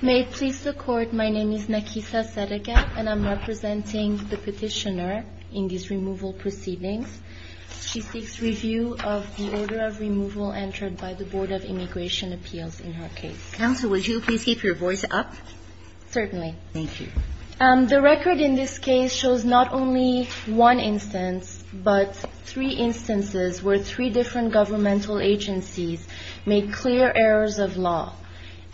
May it please the Court, my name is Nakisa Serega and I'm representing the petitioner in these removal proceedings. She seeks review of the order of removal entered by the Board of Immigration Appeals in her case. Counsel, would you please keep your voice up? Certainly. Thank you. The record in this case shows not only one instance, but three instances where three different governmental agencies made clear errors of law.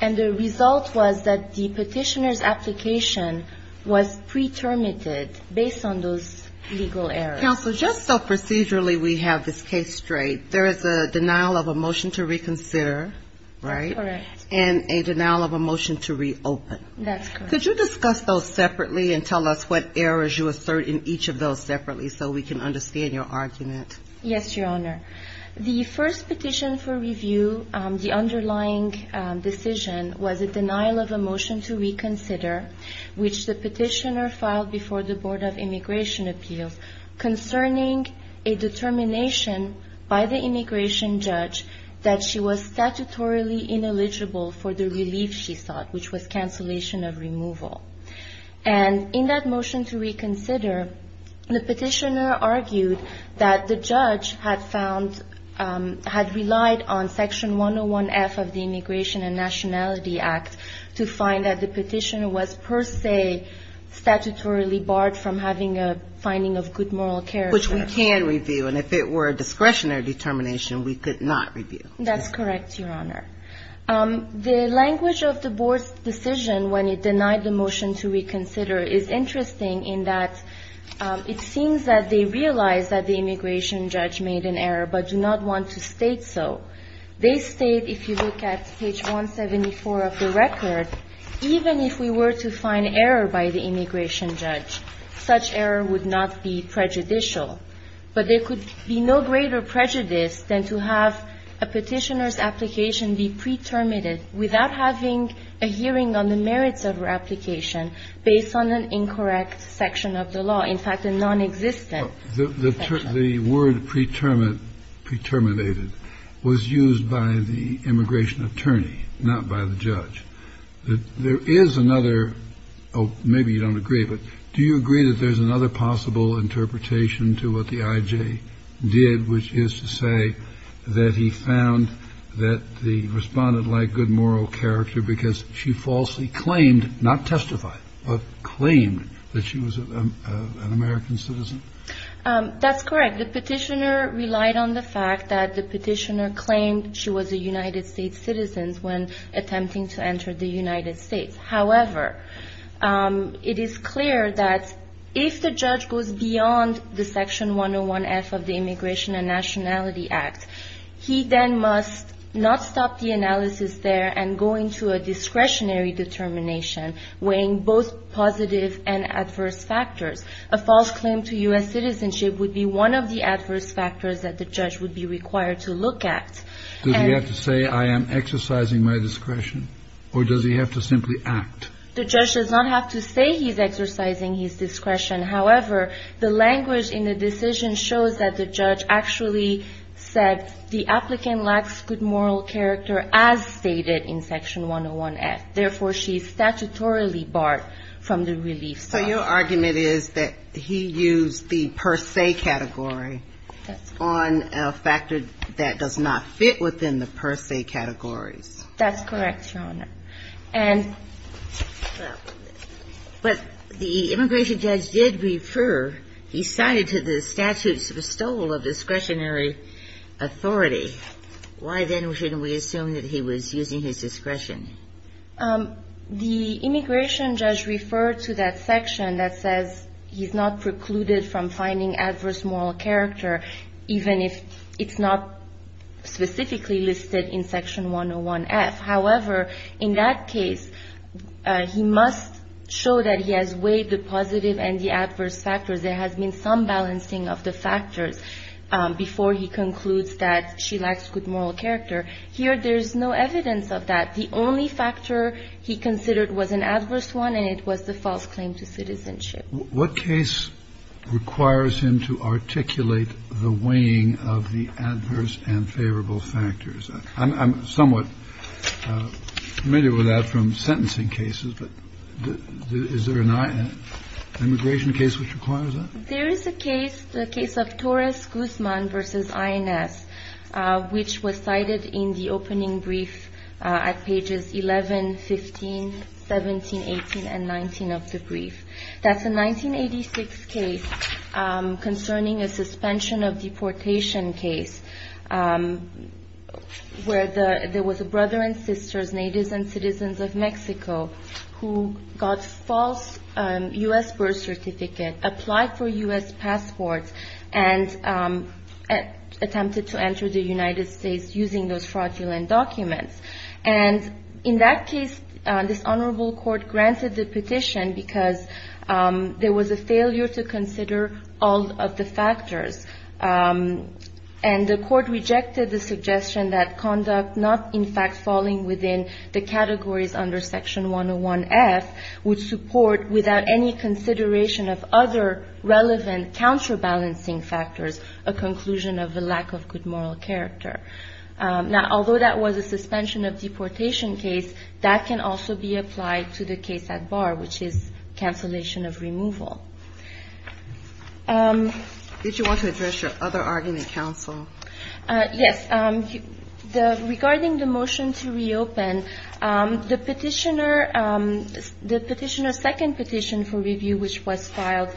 And the result was that the petitioner's application was pretermited based on those legal errors. Counsel, just so procedurally we have this case straight, there is a denial of a motion to reconsider, right? Correct. And a denial of a motion to reopen. That's correct. Could you discuss those separately and tell us what errors you assert in each of those separately so we can understand your argument? Yes, Your Honor. The first petition for review, the underlying decision, was a denial of a motion to reconsider, which the petitioner filed before the Board of Immigration Appeals concerning a determination by the immigration judge that she was statutorily ineligible for the relief she sought, which was cancellation of removal. And in that motion to reconsider, the petitioner argued that the judge had found, had relied on Section 101F of the Immigration and Nationality Act to find that the petitioner was per se statutorily barred from having a finding of good moral character. Which we can review. And if it were a discretionary determination, we could not review. That's correct, Your Honor. The language of the board's decision when it denied the motion to reconsider is interesting in that it seems that they realized that the immigration judge made an error but do not want to state so. They state, if you look at page 174 of the record, even if we were to find error by the immigration judge, such error would not be prejudicial. But there could be no greater prejudice than to have a petitioner's application be pre-terminated without having a hearing on the merits of her application based on an incorrect section of the law, in fact, a nonexistent section. The word pre-terminated was used by the immigration attorney, not by the judge. There is another, maybe you don't agree, but do you agree that there's another possible interpretation to what the I.J. did, which is to say that he found that the respondent lacked good moral character because she falsely claimed, not testified, but claimed that she was an American citizen? That's correct. The petitioner relied on the fact that the petitioner claimed she was a United States citizen when attempting to enter the United States. However, it is clear that if the judge goes beyond the Section 101F of the Immigration and Nationality Act, he then must not stop the analysis there and go into a discretionary determination weighing both positive and adverse factors. A false claim to U.S. citizenship would be one of the adverse factors that the judge would be required to look at. Does he have to say, I am exercising my discretion, or does he have to simply act? The judge does not have to say he's exercising his discretion. However, the language in the decision shows that the judge actually said the applicant lacks good moral character as stated in Section 101F. Therefore, she is statutorily barred from the relief zone. So your argument is that he used the per se category on a factor that does not fit within the per se categories. That's correct, Your Honor. And the immigration judge did refer, he cited to the statute's bestowal of discretionary authority. Why then shouldn't we assume that he was using his discretion? The immigration judge referred to that section that says he's not precluded from finding adverse moral character, even if it's not specifically listed in Section 101F. However, in that case, he must show that he has weighed the positive and the adverse factors. There has been some balancing of the factors before he concludes that she lacks good moral character. Here, there's no evidence of that. The only evidence of that is that she is not precluded from finding adverse moral character, even if it's not specifically listed in Section 101F. The only factor he considered was an adverse one, and it was the false claim to citizenship. What case requires him to articulate the weighing of the adverse and favorable factors? I'm somewhat familiar with that from sentencing cases, but is there an immigration case which requires that? There is a case, the case of Torres-Guzman v. INS, which was cited in the opening brief at Pages 11, 15, 17, 18, and 19 of the brief. That's a 1986 case concerning a suspension of deportation case where there was a brother and sisters, natives and citizens of Mexico, who got false U.S. birth certificate, applied for U.S. passports, and attempted to enter the United States using those fraudulent documents. And in that case, this honorable court granted the petition because there was a failure to consider all of the factors. And the court rejected the suggestion that conduct not, in fact, falling within the categories under Section 101F would support, without any consideration of other relevant counterbalancing factors, a conclusion of a lack of good moral character. Now, although that was a suspension of deportation case, that can also be applied to the case at bar, which is cancellation of removal. Did you want to address your other argument, counsel? Yes. Regarding the motion to reopen, the petitioner's second petition for review, which was filed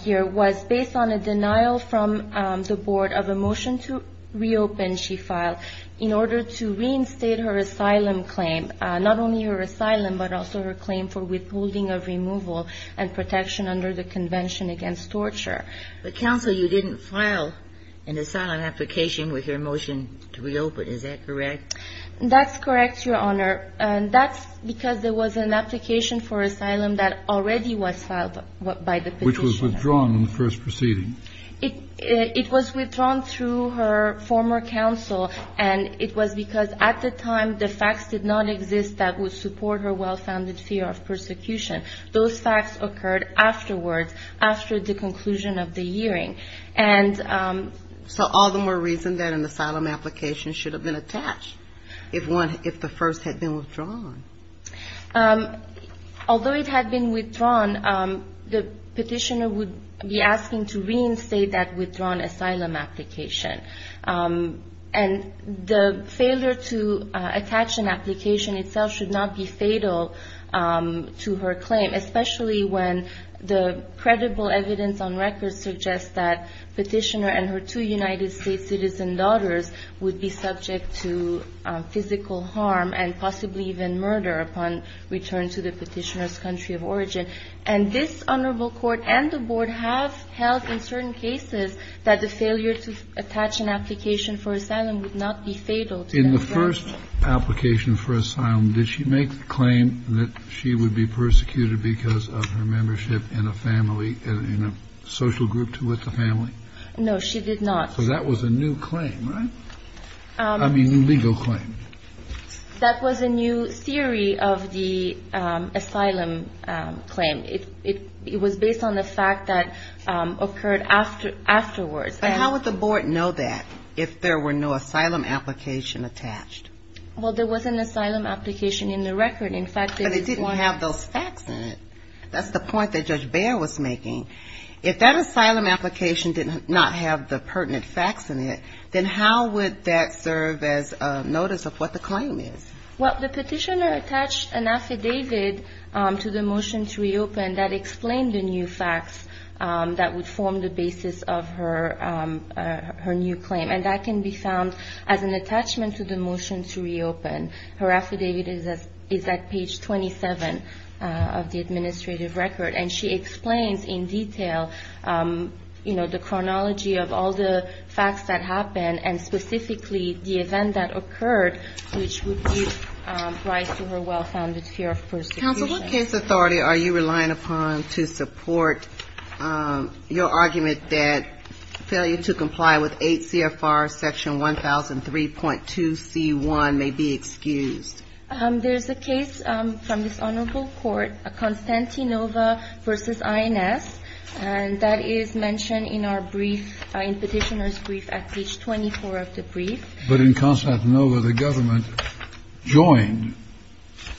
here, was based on a denial from the board of a motion to reopen, she filed, in order to reinstate her asylum claim, not only her asylum, but also her claim for withholding of removal and protection under the Convention Against Torture. But, counsel, you didn't file an asylum application with your motion to reopen. Is that correct? That's correct, Your Honor. That's because there was an application for asylum that already was filed by the petitioner. But it was withdrawn in the first proceeding. It was withdrawn through her former counsel, and it was because, at the time, the facts did not exist that would support her well-founded fear of persecution. Those facts occurred afterwards, after the conclusion of the hearing. So all the more reason that an asylum application should have been attached, if the first had been withdrawn. Although it had been withdrawn, the petitioner would be asking to reinstate that withdrawn asylum application. And the failure to attach an application itself should not be fatal to her claim, especially when the credible evidence on record suggests that petitioner and her two United States citizen daughters would be subject to physical harm and possibly even death. And that is what I'm trying to say. I'm saying that the petitioner's claim is a crime of abuse and murder upon return to the petitioner's country of origin. And this Honorable Court and the Board have held in certain cases that the failure to attach an application for asylum would not be fatal to that claim. The first application for asylum, did she make the claim that she would be persecuted because of her membership in a family, in a social group with the family? No, she did not. So that was a new claim, right? I mean, legal claim. That was a new theory of the asylum claim. It was based on the fact that occurred afterwards. But how would the Board know that if there were no asylum application attached? Well, there was an asylum application in the record. But it didn't want to have those facts in it. That's the point that Judge Bair was making. If that asylum application did not have the pertinent facts in it, then how would that serve as notice of what the claim is? Well, the petitioner attached an affidavit to the motion to reopen that explained the new facts that would form the basis of her new claim. And that can be found as an attachment to the motion to reopen. Her affidavit is at page 27 of the administrative record. And she explains in detail, you know, the chronology of all the facts that happened and specifically the event that occurred, which would give rise to her well-founded fear of persecution. Counsel, what case authority are you relying upon to support your argument that failure to comply with 8 CFR Section 1003.2c1 may be excused? There's a case from this honorable court, Constantinova v. INS. And that is mentioned in our brief, in Petitioner's Brief at page 24 of the brief. But in Constantinova, the government joined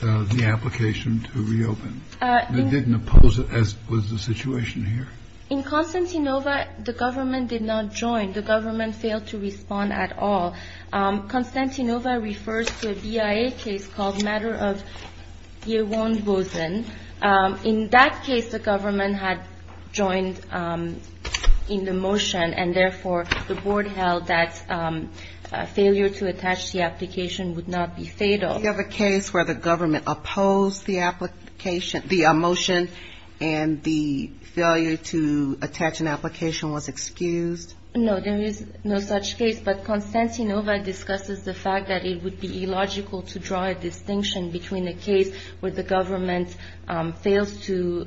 the application to reopen. It didn't oppose it, as was the situation here. In Constantinova, the government did not join. The government failed to respond at all. Constantinova refers to a BIA case called Matter of Yewon Bosen. In that case, the government had joined in the motion, and therefore the board held that failure to attach the application would not be fatal. Do you have a case where the government opposed the application, the motion, and the failure to attach an application was excused? No, there is no such case. But Constantinova discusses the fact that it would be illogical to draw a distinction between a case where the government fails to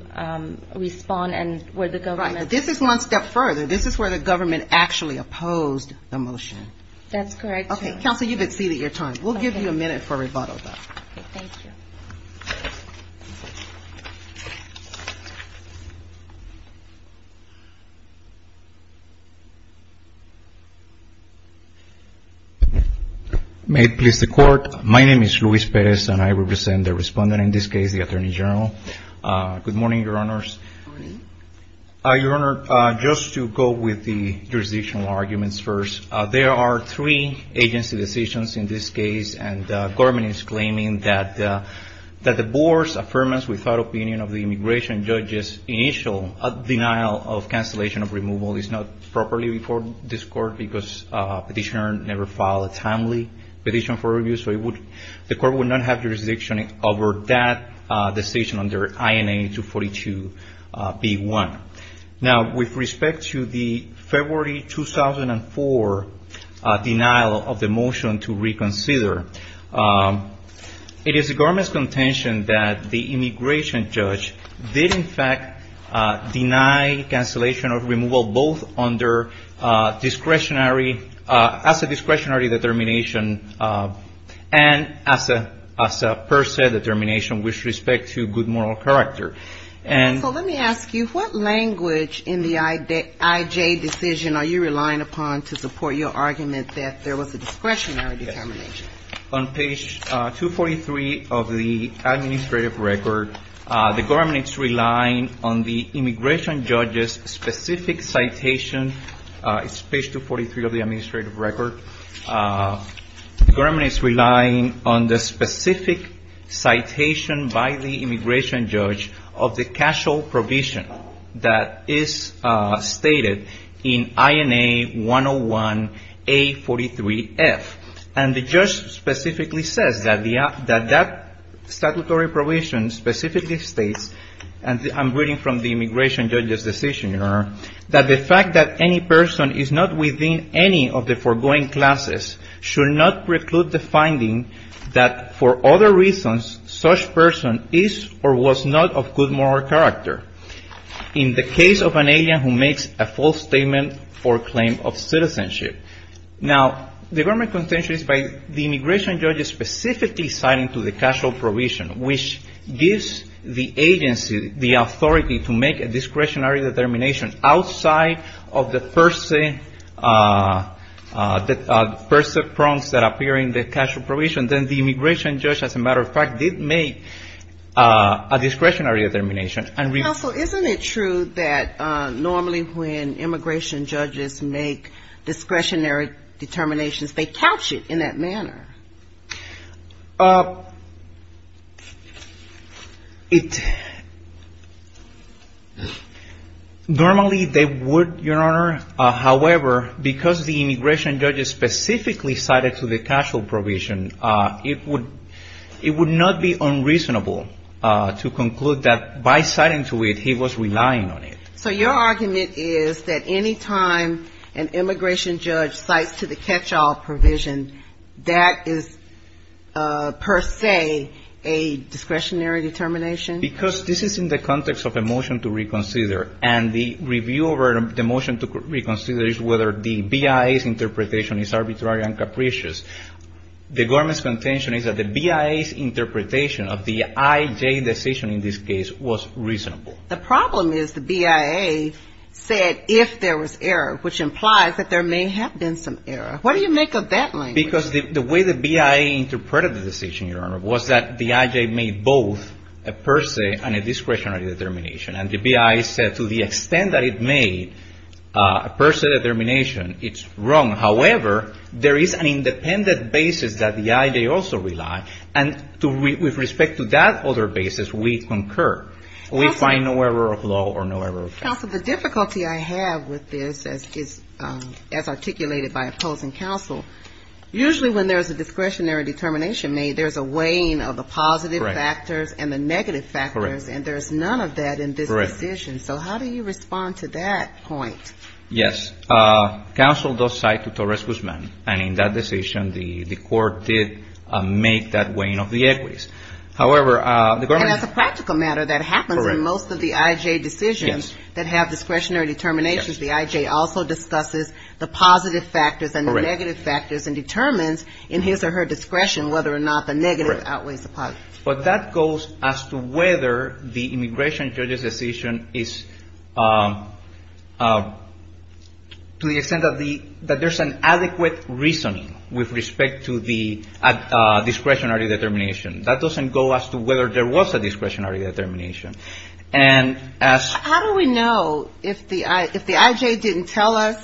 respond and where the government This is one step further. This is where the government actually opposed the motion. That's correct. Counsel, you've exceeded your time. We'll give you a minute for rebuttal. May it please the court. My name is Luis Perez, and I represent the respondent in this case, the Attorney General. Good morning, Your Honors. Your Honor, just to go with the jurisdictional arguments first, there are three agency decisions in this case, and the government is claiming that the board's affirmance without opinion of the immigration judge's initial denial of cancellation of removal is not properly before this court because the petitioner never filed a timely petition for review. So the court would not have jurisdiction over that decision under INA 242B1. Now, with respect to the February 2004 denial of the motion to reconsider, it is the government's contention that the immigration judge did in fact deny cancellation of removal, both as a discretionary determination, and as a motion. And as a per se determination with respect to good moral character. So let me ask you, what language in the IJ decision are you relying upon to support your argument that there was a discretionary determination? On page 243 of the administrative record, the government is relying on the immigration judge's specific citation. It's page 243 of the administrative record. The government is relying on the specific citation by the immigration judge of the casual provision that is stated in INA 101A43F. And the judge specifically says that that statutory provision specifically states, and I'm reading from the immigration judge's decision, Your Honor, that the fact that any person is not within any of the foregoing classes should not preclude the finding that for other reasons such person is or was not of good moral character in the case of an alien who makes a false statement for claim of citizenship. Now, the government contention is by the immigration judge specifically citing to the casual provision, which gives the agency the discretionary determination outside of the per se prongs that appear in the casual provision. Then the immigration judge, as a matter of fact, did make a discretionary determination. Counsel, isn't it true that normally when immigration judges make discretionary determinations, they couch it in that manner? Normally they would, Your Honor, however, because the immigration judge specifically cited to the casual provision, it would not be unreasonable to conclude that by citing to it, he was relying on it. So your argument is that any time an immigration judge cites to the catch-all provision, that is per se a discretionary determination? Because this is in the context of a motion to reconsider. And the review over the motion to reconsider is whether the BIA's interpretation is arbitrary and capricious. The government's contention is that the BIA's interpretation of the IJ decision in this case was reasonable. The problem is the BIA said if there was error, which implies that there may have been some error. What do you make of that language? Because the way the BIA interpreted the decision, Your Honor, was that the IJ made both a per se and a discretionary determination. And the BIA said to the extent that it made a per se determination, it's wrong. However, there is an independent basis that the IJ also relied. And with respect to that other basis, we concur. We find no error of law or no error of fact. Counsel, the difficulty I have with this, as articulated by opposing counsel, usually when there's a discretionary determination made, there's a weighing of the positive factors and the negative factors, and there's none of that in this decision. So how do you respond to that point? Yes. Counsel does cite to Torres Guzman. And in that decision, the court did make that weighing of the equities. And as a practical matter, that happens in most of the IJ decisions that have discretionary determinations. The IJ also discusses the positive factors and the negative factors and determines in his or her discretion whether or not the negative outweighs the positive. But that goes as to whether the immigration judge's decision is to the extent that there's an adequate reasoning with respect to the discretionary determination. That doesn't go as to whether there was a discretionary determination. And as How do we know if the IJ didn't tell us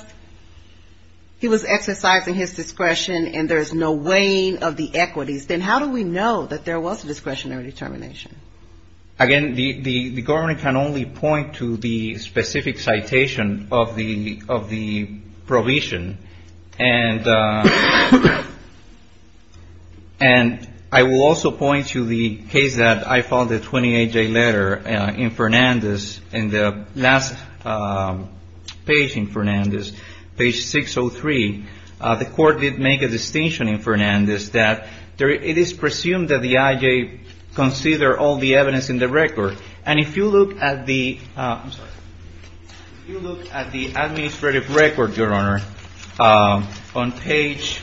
he was exercising his discretion and there's no weighing of the equities, then how do we know that there was a discretionary determination? Again, the government can only point to the specific citation of the provision. And I will also point to the case that I found a 28-J letter in Fernandez in the last page in Fernandez, page 603. The court did make a distinction in Fernandez that it is presumed that the IJ consider all the evidence in the record. And if you look at the administrative record, Your Honor, on page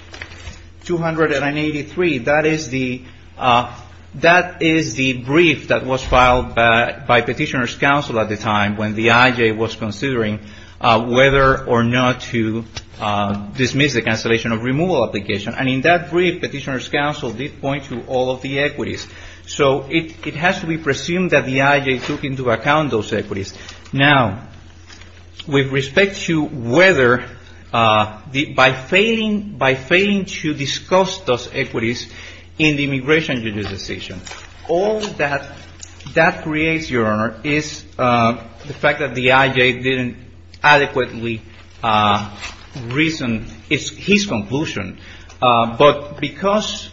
283, that is the brief that was filed by Petitioner's Counsel at the time when the IJ was considering whether or not to dismiss the cancellation of removal application. And in that brief, Petitioner's Counsel did point to all of the equities. So it has to be presumed that the IJ took into account those equities. Now, with respect to whether, by failing to discuss those equities in the immigration judicial decision, all that that creates, Your Honor, is the fact that the IJ didn't adequately reason his conclusion. But because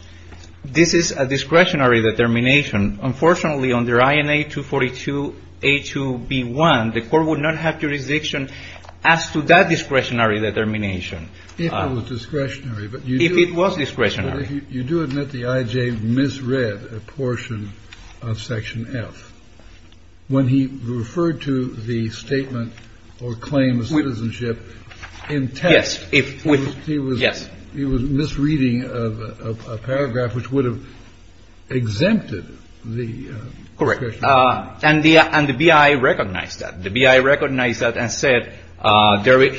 this is a discretionary determination, unfortunately, under INA 242A2B1, the court would not have jurisdiction as to that discretionary determination. Kennedy. If it was discretionary, but you do admit the IJ misread a portion of Section F. When he referred to the statement or claim of citizenship in text, he was referring to a misreading of a paragraph which would have exempted the discretionary determination. Correct. And the BI recognized that. The BI recognized that and said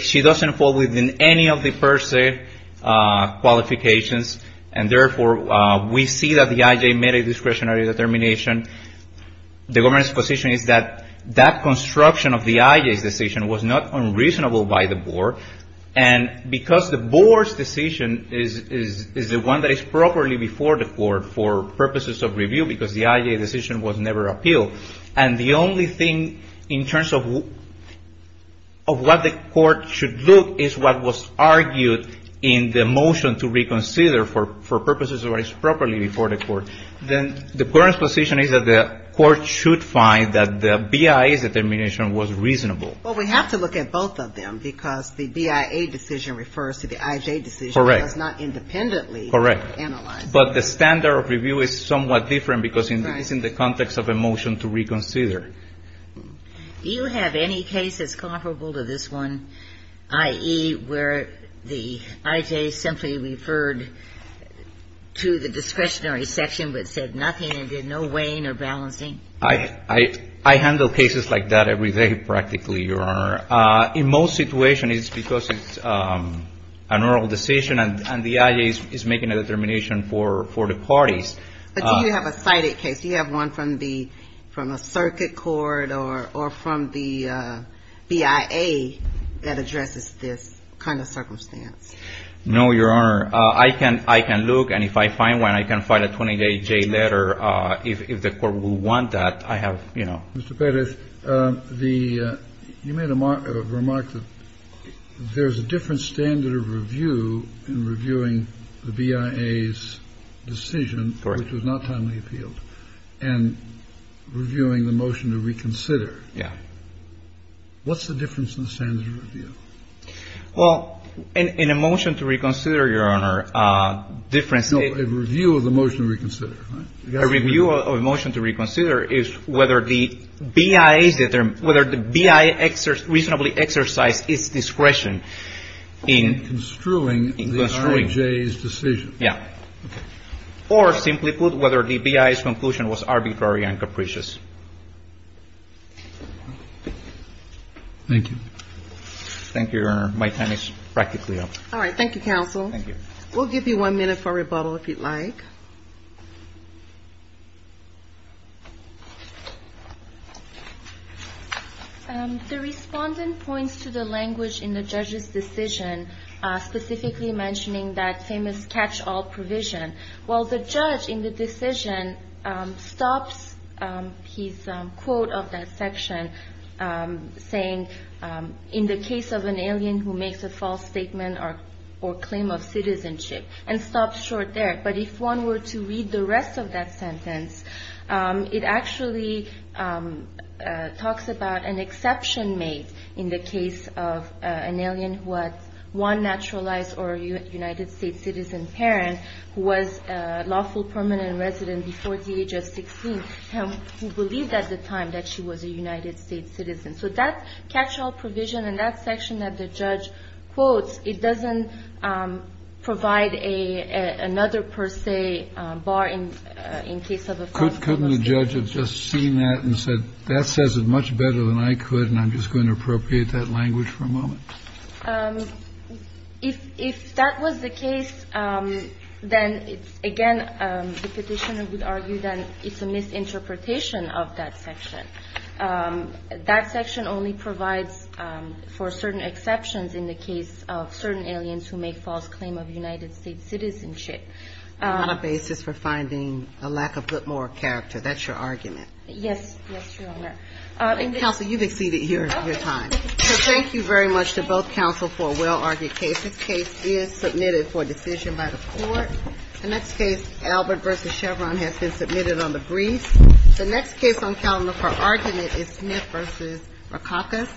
she doesn't fall within any of the per se qualifications, and therefore, we see that the IJ made a discretionary determination. The government's position is that that construction of the IJ's decision was not unreasonable by the board, and because the board's decision is the one that is properly before the court for purposes of review, because the IJ decision was never appealed, and the only thing in terms of what the court should look is what was argued in the motion to reconsider for purposes of what is properly before the court, then the court's position is that the court should find that the BI's determination was reasonable. Well, we have to look at both of them because the BIA decision refers to the IJ decision. Correct. It's not independently analyzed. Correct. But the standard of review is somewhat different because it's in the context of a motion to reconsider. Do you have any cases comparable to this one, i.e., where the IJ simply referred to the discretionary section but said nothing and did no weighing or balancing? I handle cases like that every day, practically, Your Honor. In most situations, it's because it's a normal decision and the IJ is making a determination for the parties. But do you have a cited case? Do you have one from a circuit court or from the BIA that addresses this kind of circumstance? No, Your Honor. I can look, and if I find one, I can file a 28-J letter. If the court would want that, I have, you know. Mr. Perez, you made a remark that there's a different standard of review in reviewing the BIA's decision, which was not timely appealed, and reviewing the motion to reconsider. Yeah. What's the difference in the standard of review? Well, in a motion to reconsider, Your Honor, a difference in a review of the motion to reconsider. A review of a motion to reconsider is whether the BIA is determined, whether the BIA reasonably exercised its discretion in construing the IJ's decision. Yeah. Or, simply put, whether the BIA's conclusion was arbitrary and capricious. Thank you. Thank you, Your Honor. My time is practically up. All right. Thank you, counsel. Thank you. We'll give you one minute for rebuttal, if you'd like. The Respondent points to the language in the judge's decision, specifically mentioning that famous catch-all provision. Well, the judge in the decision stops his quote of that section, saying, in the case of an alien who makes a false statement or claim of citizenship, and stops short there. But if one were to read the rest of that sentence, it actually talks about an exception made in the case of an alien who had one naturalized or United States citizen parent, who was a lawful permanent resident before the age of 16, who believed at the time that she was a United States citizen. So that catch-all provision in that section that the judge quotes, it doesn't provide another per se bar in case of a false statement. Couldn't the judge have just seen that and said, that says it much better than I could, and I'm just going to appropriate that language for a moment? If that was the case, then it's, again, the Petitioner would argue that it's a misinterpretation of that section. That section only provides for certain exceptions in the case of certain aliens who make false claim of United States citizenship. On a basis for finding a lack of good moral character. That's your argument. Yes. Yes, Your Honor. Counsel, you've exceeded your time. Okay. Thank you very much to both counsel for a well-argued case. This case is submitted for decision by the court. The next case, Albert v. Chevron, has been submitted on the briefs. The next case on calendar for argument is Smith v. Rakakis. Thank you.